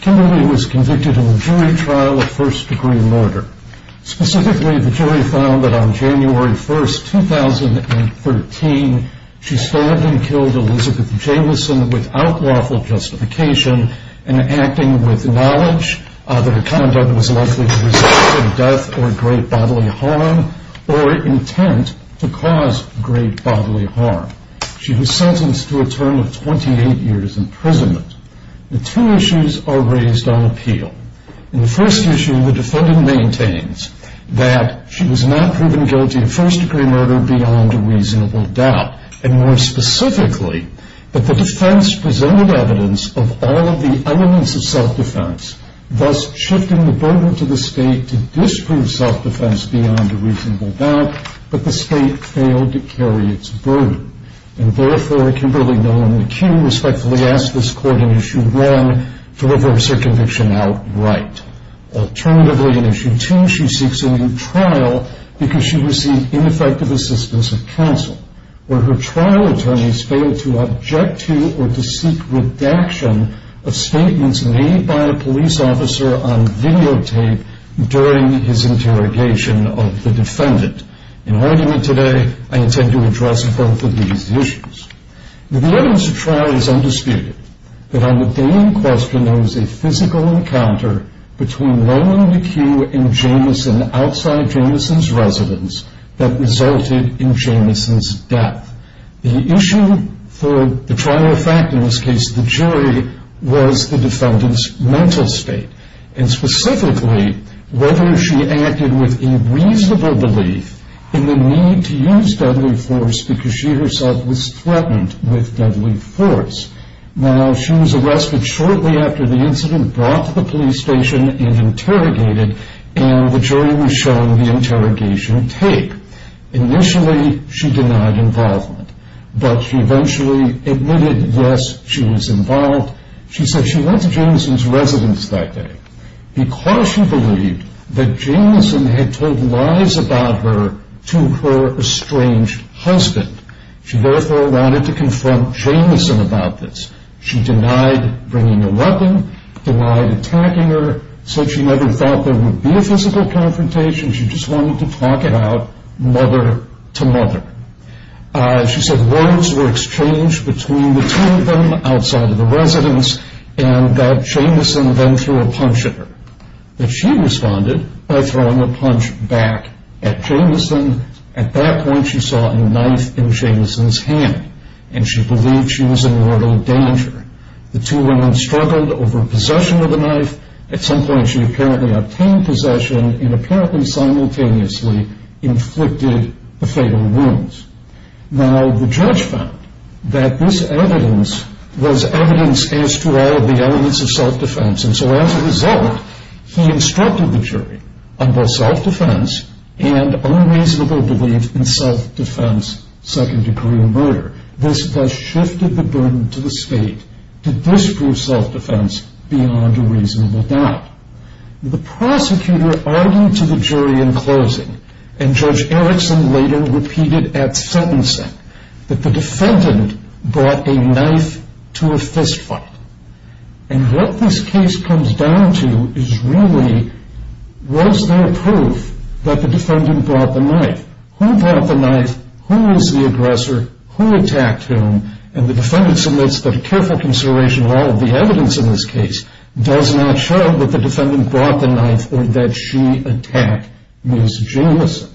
Kimberly was convicted in a jury trial of first degree murder. Specifically, the jury found that on January 1, 2013, she stabbed and killed Elizabeth Jamieson without lawful justification and acting with knowledge that her conduct was likely to result in death or great bodily harm or intent to cause great bodily harm. She was sentenced to a term of 28 years imprisonment. The two issues are raised on appeal. In the first issue, the defendant maintains that she was not proven guilty of first degree murder beyond a reasonable doubt. And more specifically, that the defense presented evidence of all of the elements of self-defense, thus shifting the burden to the state to disprove self-defense beyond a reasonable doubt, but the state failed to carry its burden. And therefore, Kimberly Nowlan-McCue respectfully asks this court in issue 1 to reverse her conviction outright. Alternatively, in issue 2, she seeks a new trial because she received ineffective assistance of counsel, where her trial attorneys failed to object to or to seek redaction of statements made by a police officer on videotape during his interrogation of the defendant. In arguing it today, I intend to address both of these issues. The evidence of trial is undisputed, but on the day in question, there was a physical encounter between Nowlan-McCue and Jamieson outside Jamieson's residence that resulted in Jamieson's death. The issue for the trial of fact in this case, the jury, was the defendant's mental state. And specifically, whether she acted with a reasonable belief in the need to use deadly force because she herself was threatened with deadly force. Now, she was arrested shortly after the incident, brought to the police station, and interrogated, and the jury was shown the interrogation tape. Initially, she denied involvement, but she eventually admitted, yes, she was involved. She said she went to Jamieson's residence that day because she believed that Jamieson had told lies about her to her estranged husband. She therefore wanted to confront Jamieson about this. She denied bringing a weapon, denied attacking her, said she never thought there would be a physical confrontation. She just wanted to talk it out mother-to-mother. She said words were exchanged between the two of them outside of the residence, and that Jamieson then threw a punch at her. She responded by throwing a punch back at Jamieson. At that point, she saw a knife in Jamieson's hand, and she believed she was in mortal danger. The two women struggled over possession of the knife. At some point, she apparently obtained possession and apparently simultaneously inflicted the fatal wounds. Now, the judge found that this evidence was evidence as to all of the elements of self-defense, and so as a result, he instructed the jury on both self-defense and unreasonable belief in self-defense, second-degree murder. This thus shifted the burden to the state to disprove self-defense beyond a reasonable doubt. The prosecutor argued to the jury in closing, and Judge Erickson later repeated at sentencing that the defendant brought a knife to a fistfight. And what this case comes down to is really, was there proof that the defendant brought the knife? Who brought the knife? Who was the aggressor? Who attacked whom? And the defendant submits that a careful consideration of all of the evidence in this case does not show that the defendant brought the knife or that she attacked Ms. Jamieson.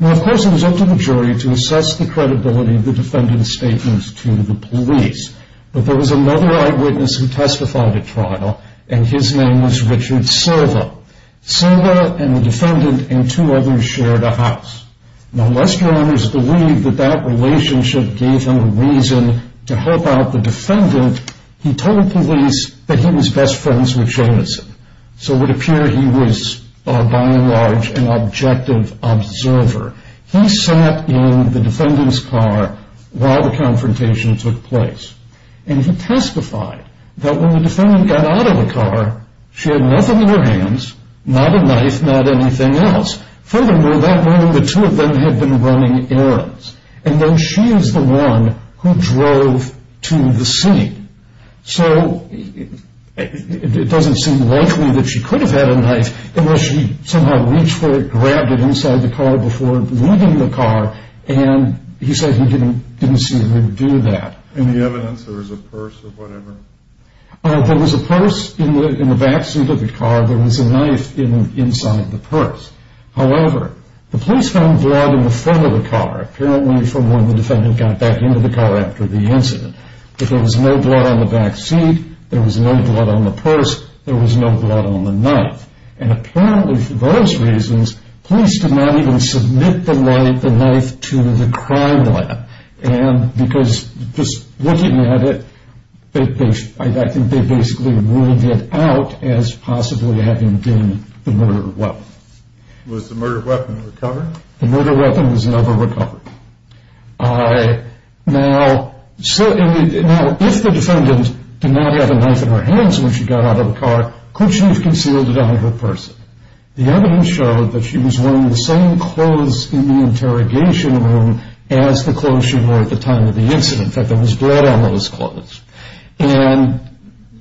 Now, of course, it was up to the jury to assess the credibility of the defendant's statements to the police, but there was another eyewitness who testified at trial, and his name was Richard Silva. Silva and the defendant and two others shared a house. Now, unless your honors believe that that relationship gave him a reason to help out the defendant, he told police that he was best friends with Jamieson, so it would appear he was, by and large, an objective observer. He sat in the defendant's car while the confrontation took place, and he testified that when the defendant got out of the car, she had nothing in her hands, not a knife, not anything else. Furthermore, that morning, the two of them had been running errands, and then she is the one who drove to the scene. So it doesn't seem likely that she could have had a knife unless she somehow reached for it, grabbed it inside the car before leaving the car, and he said he didn't see her do that. Any evidence there was a purse or whatever? There was a purse in the back seat of the car. There was a knife inside the purse. However, the police found blood in the front of the car, apparently from when the defendant got back into the car after the incident. But there was no blood on the back seat. There was no blood on the purse. There was no blood on the knife. And apparently for those reasons, police did not even submit the knife to the crime lab because just looking at it, I think they basically ruled it out as possibly having been the murder weapon. Was the murder weapon recovered? The murder weapon was never recovered. Now, if the defendant did not have a knife in her hands when she got out of the car, could she have concealed it out of her purse? The evidence showed that she was wearing the same clothes in the interrogation room as the clothes she wore at the time of the incident. In fact, there was blood on those clothes. And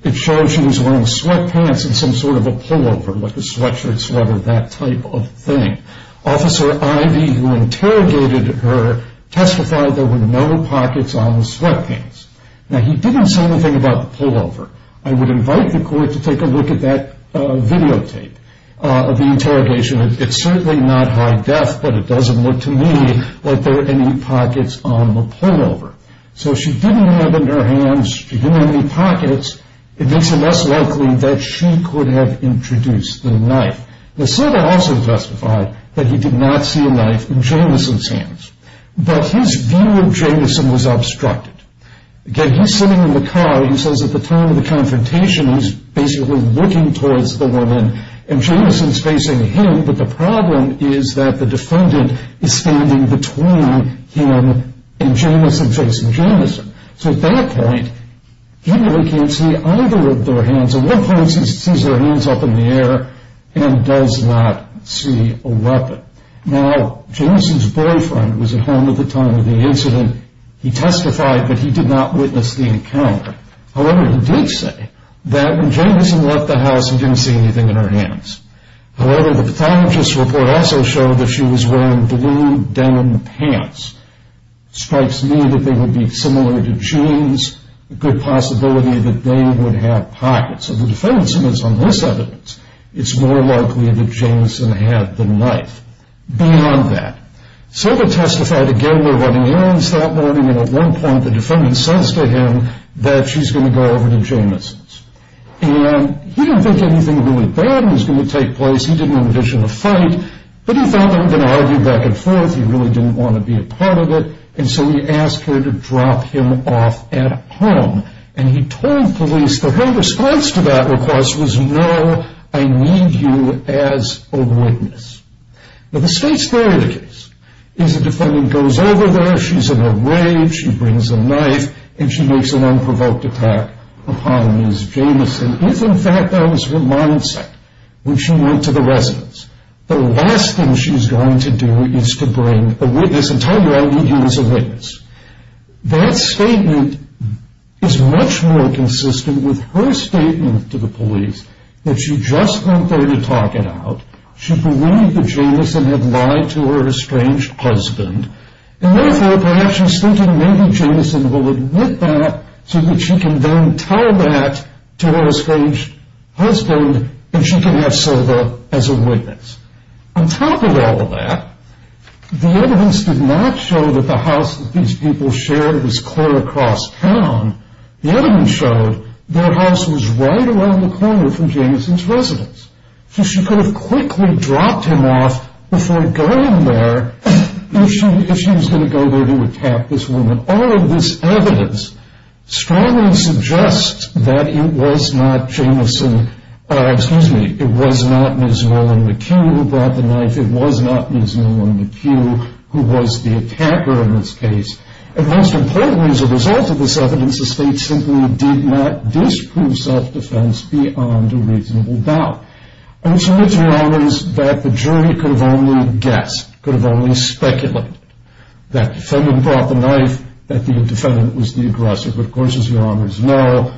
it showed she was wearing sweatpants and some sort of a pullover, like a sweatshirt, sweater, that type of thing. Officer Ivey, who interrogated her, testified there were no pockets on the sweatpants. Now, he didn't say anything about the pullover. I would invite the court to take a look at that videotape of the interrogation. It's certainly not high def, but it doesn't look to me like there are any pockets on the pullover. So she didn't have in her hands any pockets. It makes it less likely that she could have introduced the knife. Lucila also testified that he did not see a knife in Jamison's hands. But his view of Jamison was obstructed. Again, he's sitting in the car. He says at the time of the confrontation, he's basically looking towards the woman, and Jamison's facing him. But the problem is that the defendant is standing between him and Jamison facing Jamison. So at that point, he really can't see either of their hands. At one point, he sees their hands up in the air and does not see a weapon. Now, Jamison's boyfriend was at home at the time of the incident. Again, he testified that he did not witness the encounter. However, he did say that when Jamison left the house, he didn't see anything in her hands. However, the pathologist's report also showed that she was wearing blue denim pants. It strikes me that they would be similar to jeans, a good possibility that they would have pockets. So the defense is on this evidence. It's more likely that Jamison had the knife. So they testified again. They're running errands that morning. And at one point, the defendant says to him that she's going to go over to Jamison's. And he didn't think anything really bad was going to take place. He didn't envision a fight. But he thought they were going to argue back and forth. He really didn't want to be a part of it. And so he asked her to drop him off at home. And he told police that her response to that request was, no, I need you as a witness. Now, the state's theory of the case is the defendant goes over there. She's in a rave. She brings a knife. And she makes an unprovoked attack upon Ms. Jamison. If, in fact, that was her mindset when she went to the residence, the last thing she's going to do is to bring a witness and tell him, I need you as a witness. That statement is much more consistent with her statement to the police that she just went there to talk it out. She believed that Jamison had lied to her estranged husband. And therefore, perhaps she's thinking maybe Jamison will admit that so that she can then tell that to her estranged husband and she can have Silva as a witness. On top of all of that, the evidence did not show that the house that these people shared was clear across town. The evidence showed their house was right around the corner from Jamison's residence. So she could have quickly dropped him off before going there if she was going to go there to attack this woman. Now, all of this evidence strongly suggests that it was not Ms. Nolan McHugh who brought the knife. It was not Ms. Nolan McHugh who was the attacker in this case. And most importantly, as a result of this evidence, the state simply did not disprove self-defense beyond a reasonable doubt. I'm sure, Your Honors, that the jury could have only guessed, could have only speculated that the defendant brought the knife, that the defendant was the aggressor. But of course, as Your Honors know,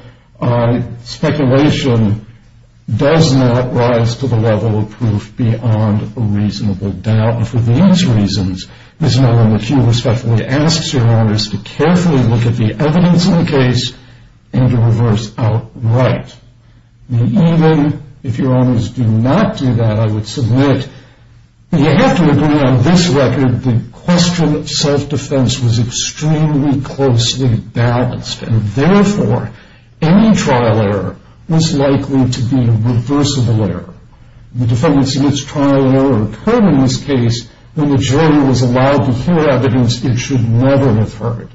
speculation does not rise to the level of proof beyond a reasonable doubt. And for these reasons, Ms. Nolan McHugh respectfully asks Your Honors to carefully look at the evidence in the case and to reverse outright. Now, even if Your Honors do not do that, I would submit, you have to agree on this record, the question of self-defense was extremely closely balanced. And therefore, any trial error was likely to be a reversible error. The defendant's trial error occurred in this case when the jury was allowed to hear evidence it should never have heard.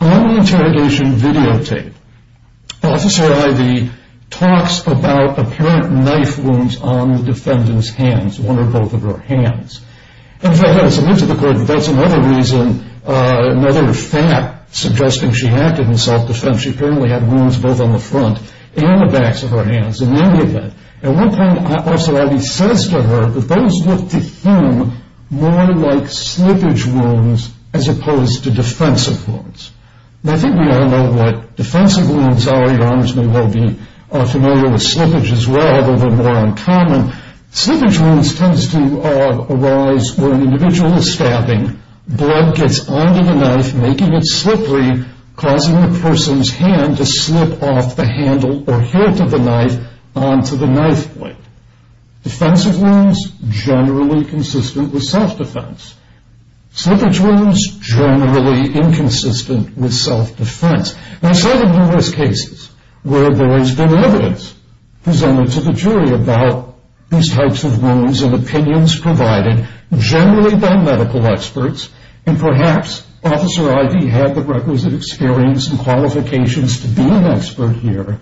On the interrogation videotape, Officer Ivey talks about apparent knife wounds on the defendant's hands, one or both of her hands. In fact, I submit to the court that that's another reason, another fact, suggesting she acted in self-defense. She apparently had wounds both on the front and the backs of her hands, and many of them. At one point, Officer Ivey says to her that those looked to him more like slippage wounds as opposed to defensive wounds. And I think we all know what defensive wounds are. Your Honors may well be familiar with slippage as well, although they're more uncommon. Slippage wounds tend to arise when an individual is stabbing, blood gets onto the knife, making it slippery, causing the person's hand to slip off the handle or hit the knife onto the knife blade. Defensive wounds, generally consistent with self-defense. Slippage wounds, generally inconsistent with self-defense. And I've studied numerous cases where there has been evidence presented to the jury about these types of wounds and opinions provided generally by medical experts, and perhaps Officer Ivey had the requisite experience and qualifications to be an expert here.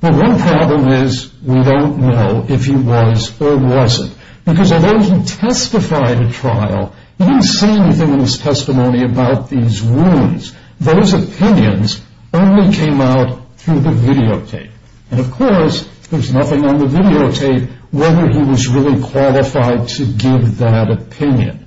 The one problem is we don't know if he was or wasn't, because although he testified at trial, he didn't say anything in his testimony about these wounds. Those opinions only came out through the videotape. And, of course, there's nothing on the videotape whether he was really qualified to give that opinion.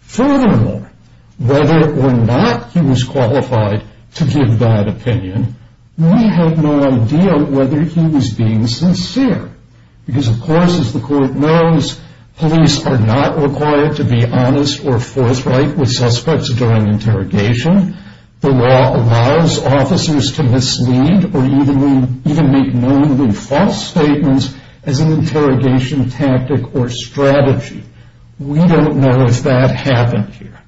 Furthermore, whether or not he was qualified to give that opinion, we have no idea whether he was being sincere. Because, of course, as the court knows, police are not required to be honest or forthright with suspects during interrogation. The law allows officers to mislead or even make mainly false statements as an interrogation tactic or strategy. We don't know if that happened here.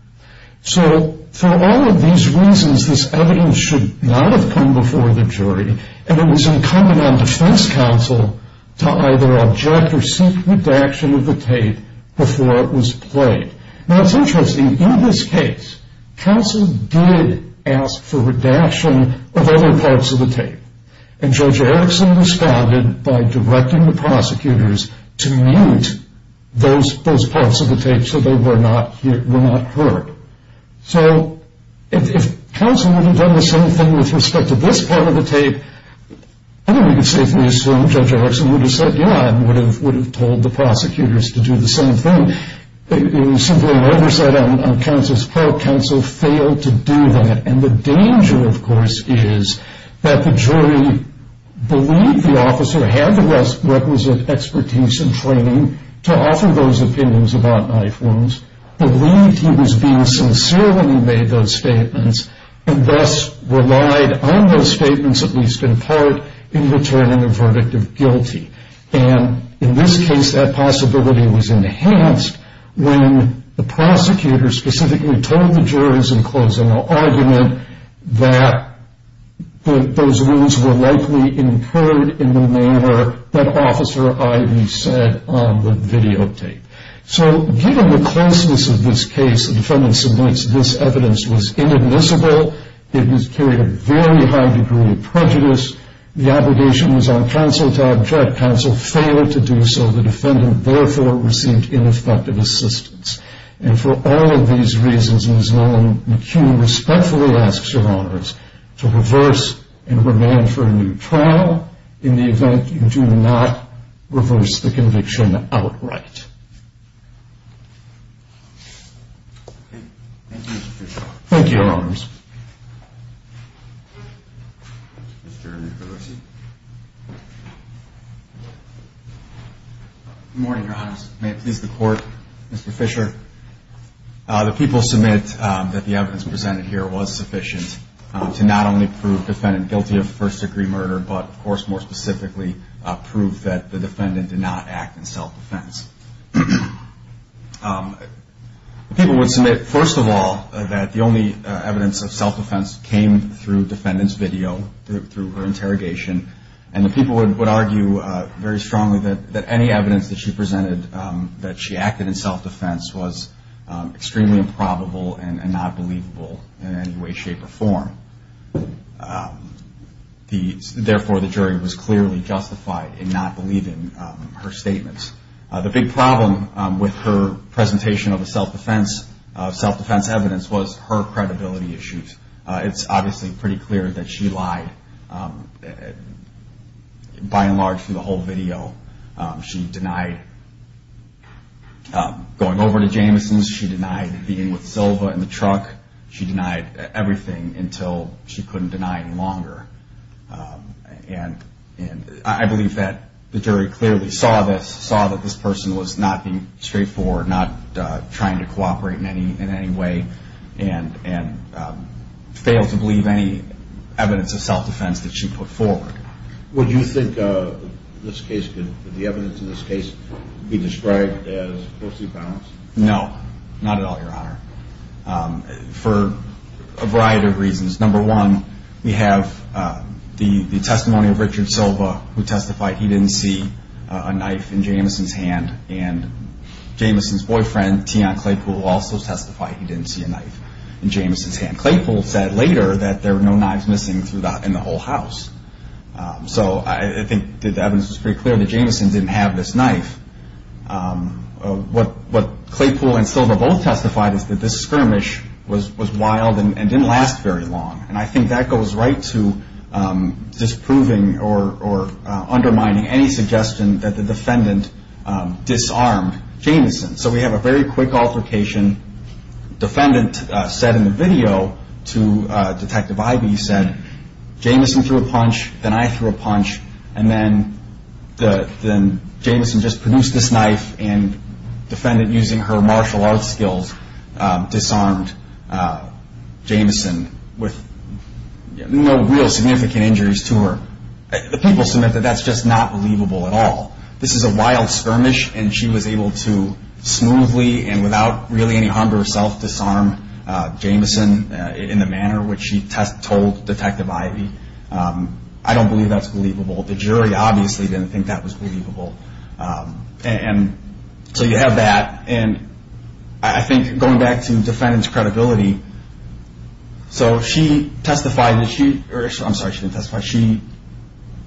So for all of these reasons, this evidence should not have come before the jury, and it was incumbent on defense counsel to either object or seek redaction of the tape before it was played. Now, it's interesting. In this case, counsel did ask for redaction of other parts of the tape, and Judge Erickson responded by directing the prosecutors to mute those parts of the tape so they were not heard. So if counsel would have done the same thing with respect to this part of the tape, I think we can safely assume Judge Erickson would have said yeah and would have told the prosecutors to do the same thing. Simply an oversight on counsel's part, counsel failed to do that. And the danger, of course, is that the jury believed the officer had the requisite expertise and training to offer those opinions about knife wounds, believed he was being sincere when he made those statements, and thus relied on those statements, at least in part, in returning a verdict of guilty. And in this case, that possibility was enhanced when the prosecutor specifically told the jurors in closing argument that those wounds were likely incurred in the manner that Officer Ivey said on the videotape. So given the closeness of this case, the defendant submits this evidence was inadmissible. It carried a very high degree of prejudice. The obligation was on counsel to object. Counsel failed to do so. The defendant, therefore, received ineffective assistance. And for all of these reasons, Ms. Nolan McCune respectfully asks Your Honors to reverse and remand for a new trial in the event you do not reverse the conviction outright. Thank you, Mr. Fischer. Thank you, Your Honors. Good morning, Your Honors. May it please the Court, Mr. Fischer. The people submit that the evidence presented here was sufficient to not only prove the defendant guilty of first-degree murder, but, of course, more specifically, prove that the defendant did not act in self-defense. The people would submit, first of all, that the only evidence that the defendant was guilty of first-degree murder came through defendant's video, through her interrogation. And the people would argue very strongly that any evidence that she presented that she acted in self-defense was extremely improbable and not believable in any way, shape, or form. Therefore, the jury was clearly justified in not believing her statements. The big problem with her presentation of self-defense evidence was her credibility issues. It's obviously pretty clear that she lied, by and large, through the whole video. She denied going over to Jameson's. She denied being with Silva in the truck. She denied everything until she couldn't deny it any longer. And I believe that the jury clearly saw this, saw that this person was not being straightforward, not trying to cooperate in any way, and failed to believe any evidence of self-defense that she put forward. Would you think the evidence in this case could be described as falsely balanced? No, not at all, Your Honor, for a variety of reasons. Number one, we have the testimony of Richard Silva, who testified he didn't see a knife in Jameson's hand. And Jameson's boyfriend, Tian Claypool, also testified he didn't see a knife in Jameson's hand. Claypool said later that there were no knives missing in the whole house. So I think the evidence was pretty clear that Jameson didn't have this knife. What Claypool and Silva both testified is that this skirmish was wild and didn't last very long. And I think that goes right to disproving or undermining any suggestion that the defendant disarmed Jameson. So we have a very quick altercation. Defendant said in the video to Detective Ivey, he said, Jameson just produced this knife, and defendant, using her martial arts skills, disarmed Jameson with no real significant injuries to her. The people submit that that's just not believable at all. This is a wild skirmish, and she was able to smoothly and without really any harm to herself disarm Jameson in the manner which she told Detective Ivey. I don't believe that's believable. The jury obviously didn't think that was believable. And so you have that. And I think going back to defendant's credibility, so she testified that she – I'm sorry, she didn't testify. She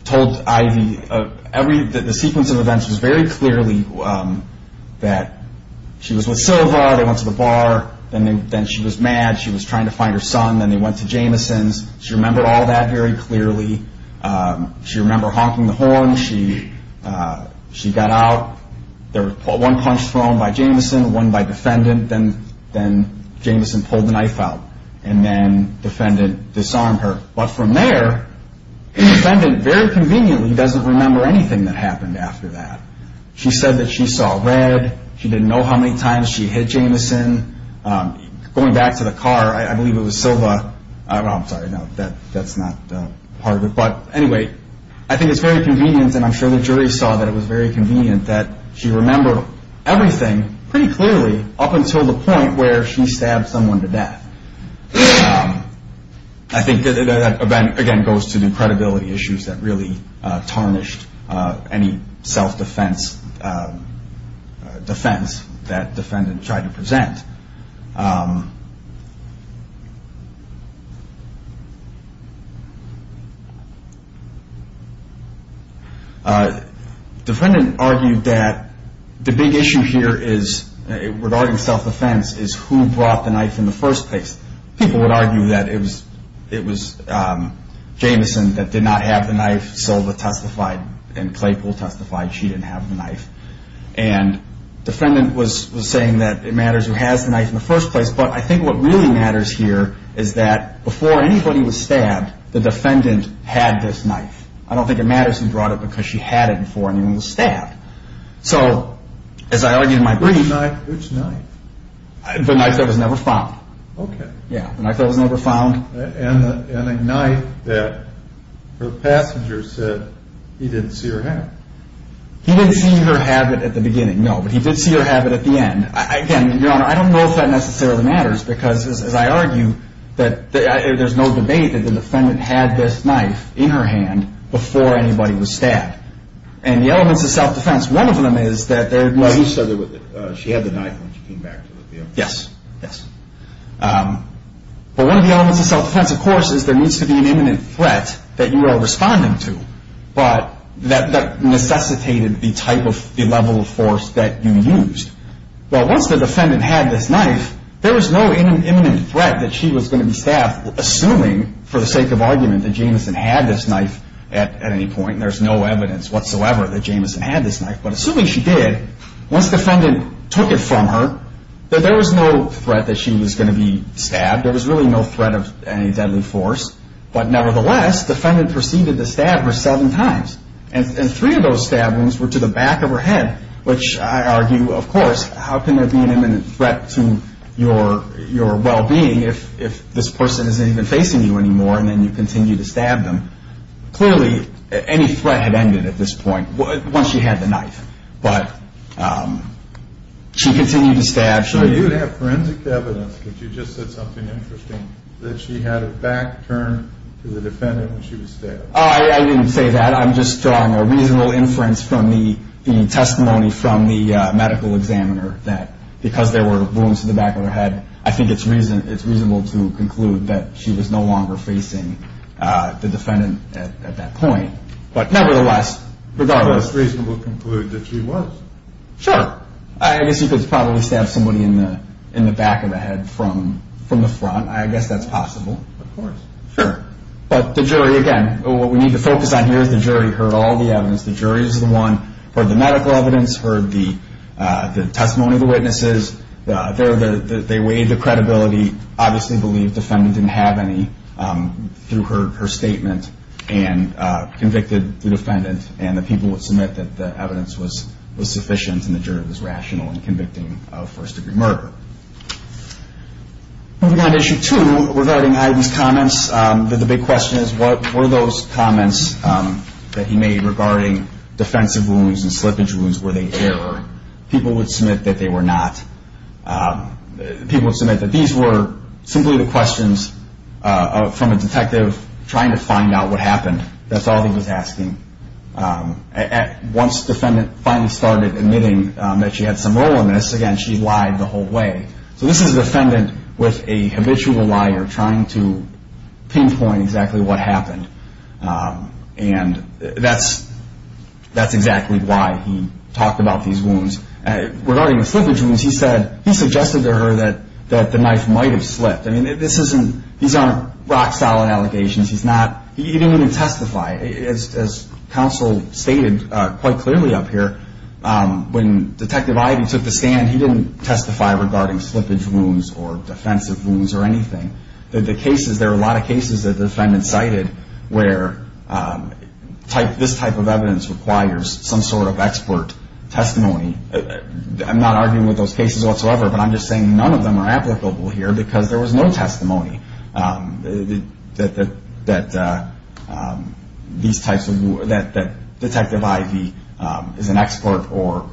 told Ivey that the sequence of events was very clearly that she was with Silva. They went to the bar. Then she was mad. She was trying to find her son. Then they went to Jameson's. She remembered all that very clearly. She remembered honking the horn. She got out. One punch thrown by Jameson, one by defendant. Then Jameson pulled the knife out, and then defendant disarmed her. But from there, defendant very conveniently doesn't remember anything that happened after that. She said that she saw red. She didn't know how many times she hit Jameson. Going back to the car, I believe it was Silva. I'm sorry, no, that's not part of it. But anyway, I think it's very convenient, and I'm sure the jury saw that it was very convenient, that she remembered everything pretty clearly up until the point where she stabbed someone to death. I think that, again, goes to the credibility issues that really tarnished any self-defense defense that defendant tried to present. Defendant argued that the big issue here regarding self-defense is who brought the knife in the first place. People would argue that it was Jameson that did not have the knife. Silva testified, and Claypool testified she didn't have the knife. And defendant was saying that it matters who has the knife in the first place, but I think what really matters here is that before anybody was stabbed, the defendant had this knife. I don't think it matters who brought it because she had it before anyone was stabbed. So, as I argued in my brief, the knife that was never found. Okay. Yeah, the knife that was never found. And a knife that her passenger said he didn't see or have. He didn't see or have it at the beginning, no, but he did see or have it at the end. Again, Your Honor, I don't know if that necessarily matters because, as I argue, there's no debate that the defendant had this knife in her hand before anybody was stabbed. And the elements of self-defense, one of them is that there was... Well, you said she had the knife when she came back to the field. Yes, yes. But one of the elements of self-defense, of course, is there needs to be an imminent threat that you are responding to, but that necessitated the level of force that you used. Well, once the defendant had this knife, there was no imminent threat that she was going to be stabbed, assuming, for the sake of argument, that Jameson had this knife at any point. There's no evidence whatsoever that Jameson had this knife, but assuming she did, once the defendant took it from her, there was no threat that she was going to be stabbed. There was really no threat of any deadly force. But nevertheless, the defendant proceeded to stab her seven times, and three of those stab wounds were to the back of her head, which I argue, of course, how can there be an imminent threat to your well-being if this person isn't even facing you anymore and then you continue to stab them? Clearly, any threat had ended at this point once she had the knife. But she continued to stab. So you have forensic evidence that you just said something interesting, that she had her back turned to the defendant when she was stabbed. I didn't say that. I'm just drawing a reasonable inference from the testimony from the medical examiner that because there were wounds to the back of her head, I think it's reasonable to conclude that she was no longer facing the defendant at that point. But nevertheless, regardless. It's reasonable to conclude that she was. Sure. I guess you could probably stab somebody in the back of the head from the front. I guess that's possible. Of course. Sure. But the jury, again, what we need to focus on here is the jury heard all the evidence. The jury is the one who heard the medical evidence, heard the testimony of the witnesses. They weighed the credibility, obviously believed the defendant didn't have any through her statement and convicted the defendant. And the people would submit that the evidence was sufficient and the jury was rational in convicting a first-degree murder. Moving on to Issue 2, regarding Ivan's comments, the big question is what were those comments that he made regarding defensive wounds and slippage wounds? Were they error? People would submit that they were not. People would submit that these were simply the questions from a detective trying to find out what happened. That's all he was asking. Once the defendant finally started admitting that she had some role in this, again, she lied the whole way. So this is a defendant with a habitual liar trying to pinpoint exactly what happened. And that's exactly why he talked about these wounds. Regarding the slippage wounds, he suggested to her that the knife might have slipped. I mean, these aren't rock-solid allegations. He didn't even testify. As counsel stated quite clearly up here, when Detective Ivan took the stand, he didn't testify regarding slippage wounds or defensive wounds or anything. There are a lot of cases that the defendant cited where this type of evidence requires some sort of expert testimony. I'm not arguing with those cases whatsoever, but I'm just saying none of them are applicable here because there was no testimony that Detective Ivey is an expert or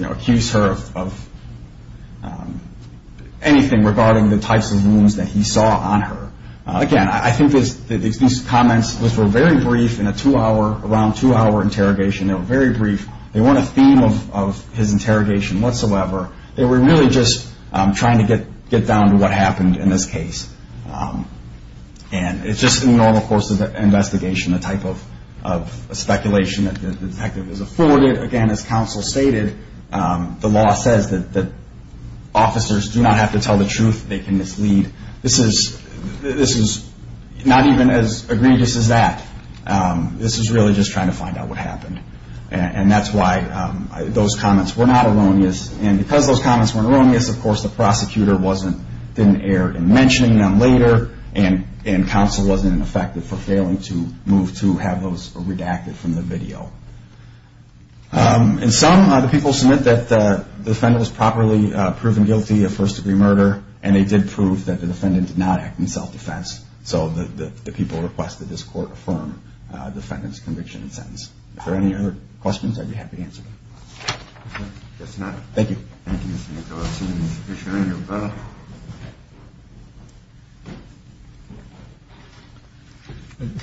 accused her of anything regarding the types of wounds that he saw on her. Again, I think these comments were very brief in a two-hour, around two-hour interrogation. They were very brief. They weren't a theme of his interrogation whatsoever. They were really just trying to get down to what happened in this case. And it's just in the normal course of an investigation, the type of speculation that the detective is afforded. Again, as counsel stated, the law says that officers do not have to tell the truth. They can mislead. This is not even as egregious as that. This is really just trying to find out what happened. And that's why those comments were not erroneous. And because those comments weren't erroneous, of course, the prosecutor didn't err in mentioning them later, and counsel wasn't effective for failing to move to have those redacted from the video. And some of the people submit that the defendant was properly proven guilty of first-degree murder, and they did prove that the defendant did not act in self-defense. So the people requested this court affirm the defendant's conviction and sentence. If there are any other questions, I'd be happy to answer them. If not, thank you. Thank you, Mr. McAllister. I appreciate it. You're welcome.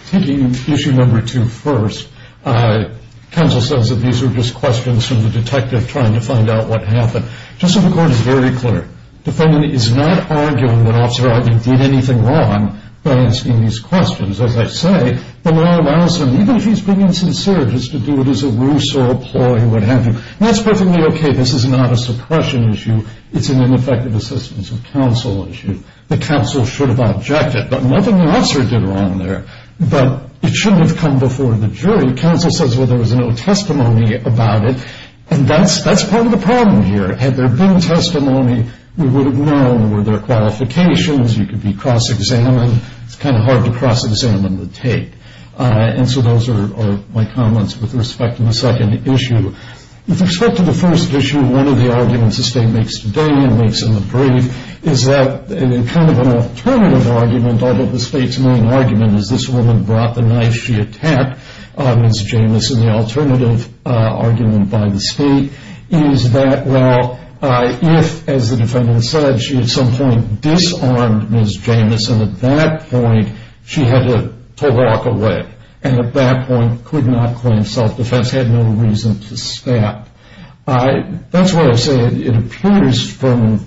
Taking issue number two first, counsel says that these are just questions from the detective trying to find out what happened. Just so the court is very clear, the defendant is not arguing that Officer Ogden did anything wrong by asking these questions. As I say, the law allows him, even if he's being sincere, just to do it as a ruse or a ploy or what have you. And that's perfectly okay. This is not a suppression issue. It's an ineffective assistance of counsel issue. The counsel should have objected, but nothing the officer did wrong there. But it shouldn't have come before the jury. Counsel says, well, there was no testimony about it, and that's part of the problem here. Had there been testimony, we would have known. Were there qualifications? You could be cross-examined. It's kind of hard to cross-examine the take. And so those are my comments with respect to the second issue. With respect to the first issue, one of the arguments the state makes today and makes in the brief is that kind of an alternative argument, although the state's main argument is this woman brought the knife, she attacked Ms. Jamis. And the alternative argument by the state is that, well, if, as the defendant said, she at some point disarmed Ms. Jamis, and at that point she had to walk away, and at that point could not claim self-defense, had no reason to stab. That's why I say it appears from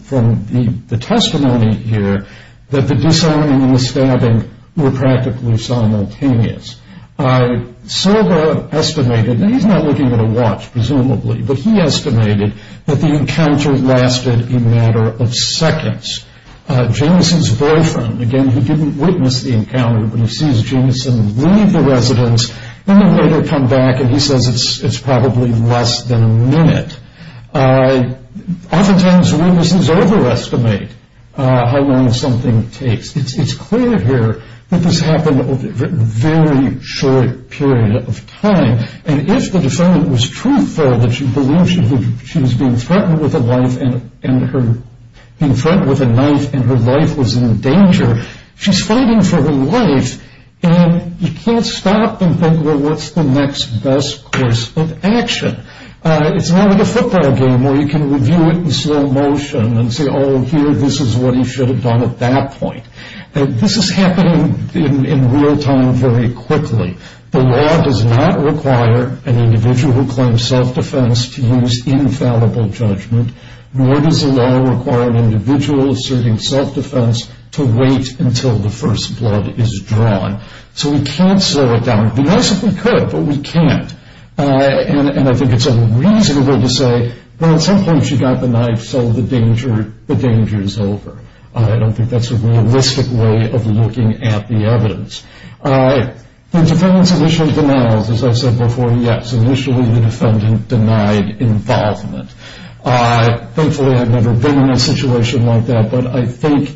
the testimony here that the disarming and the stabbing were practically simultaneous. Silva estimated, and he's not looking at a watch, presumably, Jamison's boyfriend, again, who didn't witness the encounter, but he sees Jamison leave the residence and then later come back, and he says it's probably less than a minute. Oftentimes witnesses overestimate how long something takes. It's clear here that this happened over a very short period of time, and if the defendant was truthful, that she believed she was being threatened with a knife and her life was in danger, she's fighting for her life, and you can't stop and think, well, what's the next best course of action? It's not like a football game where you can review it in slow motion and say, oh, here, this is what he should have done at that point. This is happening in real time very quickly. The law does not require an individual who claims self-defense to use infallible judgment, nor does the law require an individual asserting self-defense to wait until the first blood is drawn. So we can't slow it down. It would be nice if we could, but we can't, and I think it's unreasonable to say, well, at some point she got the knife, so the danger is over. I don't think that's a realistic way of looking at the evidence. The defendant's initial denials, as I said before, yes, initially the defendant denied involvement. Thankfully, I've never been in a situation like that, but I think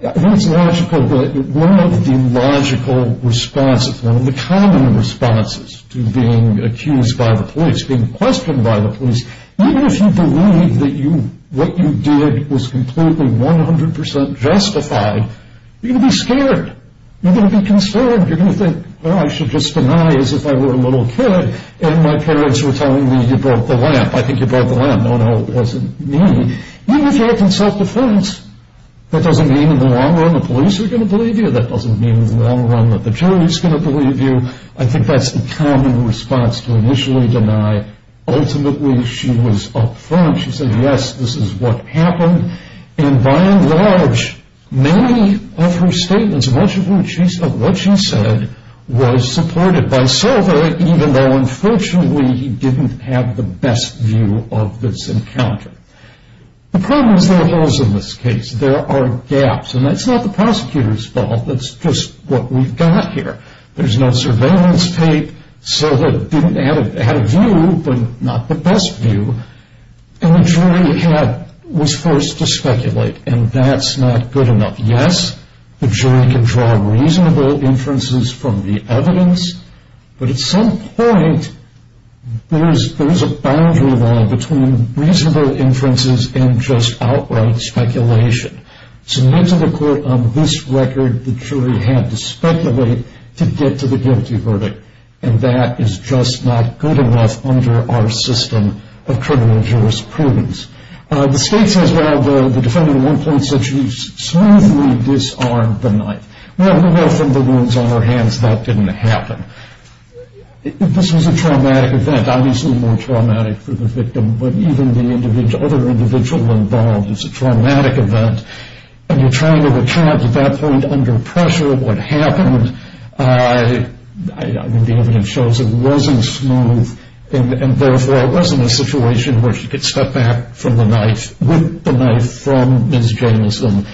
it's logical that one of the logical responses, one of the common responses to being accused by the police, being questioned by the police, even if you believe that what you did was completely 100% justified, you're going to be scared. You're going to be concerned. You're going to think, well, I should just deny as if I were a little kid and my parents were telling me you broke the lamp. I think you broke the lamp. No, no, it wasn't me. Even if you have self-defense, that doesn't mean in the long run the police are going to believe you. That doesn't mean in the long run that the jury is going to believe you. I think that's the common response to initially deny. Ultimately, she was up front. She said, yes, this is what happened, and by and large, many of her statements, much of what she said, was supported by Silva, even though, unfortunately, he didn't have the best view of this encounter. The problem is there are holes in this case. There are gaps, and that's not the prosecutor's fault. That's just what we've got here. There's no surveillance tape. Silva had a view, but not the best view, and the jury was forced to speculate, and that's not good enough. Yes, the jury can draw reasonable inferences from the evidence, but at some point, there's a boundary line between reasonable inferences and just outright speculation. To get to the court on this record, the jury had to speculate to get to the guilty verdict, and that is just not good enough under our system of criminal jurisprudence. The state says, well, the defendant at one point said she smoothly disarmed the knife. Well, we were off in the woods on our hands. That didn't happen. This was a traumatic event, obviously more traumatic for the victim, but even the other individual involved, it's a traumatic event, and you're trying to return it to that point under pressure. I mean, the evidence shows it wasn't smooth, and therefore it wasn't a situation where she could step back from the knife, whip the knife from Ms. Jameson,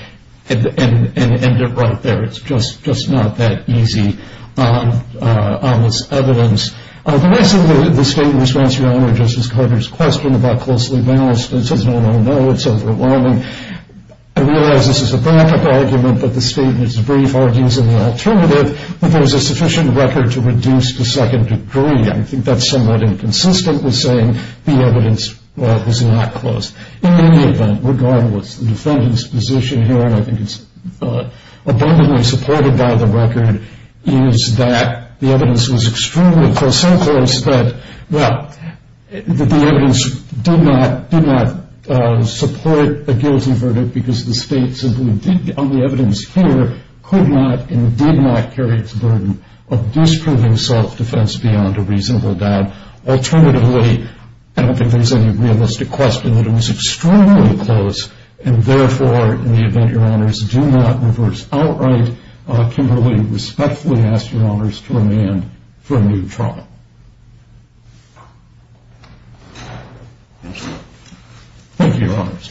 and end it right there. It's just not that easy on this evidence. The rest of the statements answer Your Honor, Justice Carter's question about closely balanced. It says, no, no, no, it's overwhelming. I realize this is a backup argument, but the statement is brief, argues an alternative, that there was a sufficient record to reduce to second degree. I think that's somewhat inconsistent with saying the evidence was not close. In any event, regardless, the defendant's position here, and I think it's abundantly supported by the record, is that the evidence was extremely close, so close that, well, that the evidence did not support a guilty verdict, because the state simply, on the evidence here, could not and did not carry its burden of disproving self-defense beyond a reasonable doubt. Alternatively, I don't think there's any realistic question that it was extremely close, and therefore, in the event Your Honors do not reverse outright, I would respectfully ask Your Honors to remand for a new trial. Thank you. Thank you, Your Honors.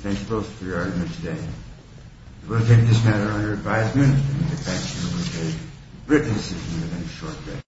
Thank you both for your argument today. We will take this matter under advisement, and the defense will be a written decision in the short term.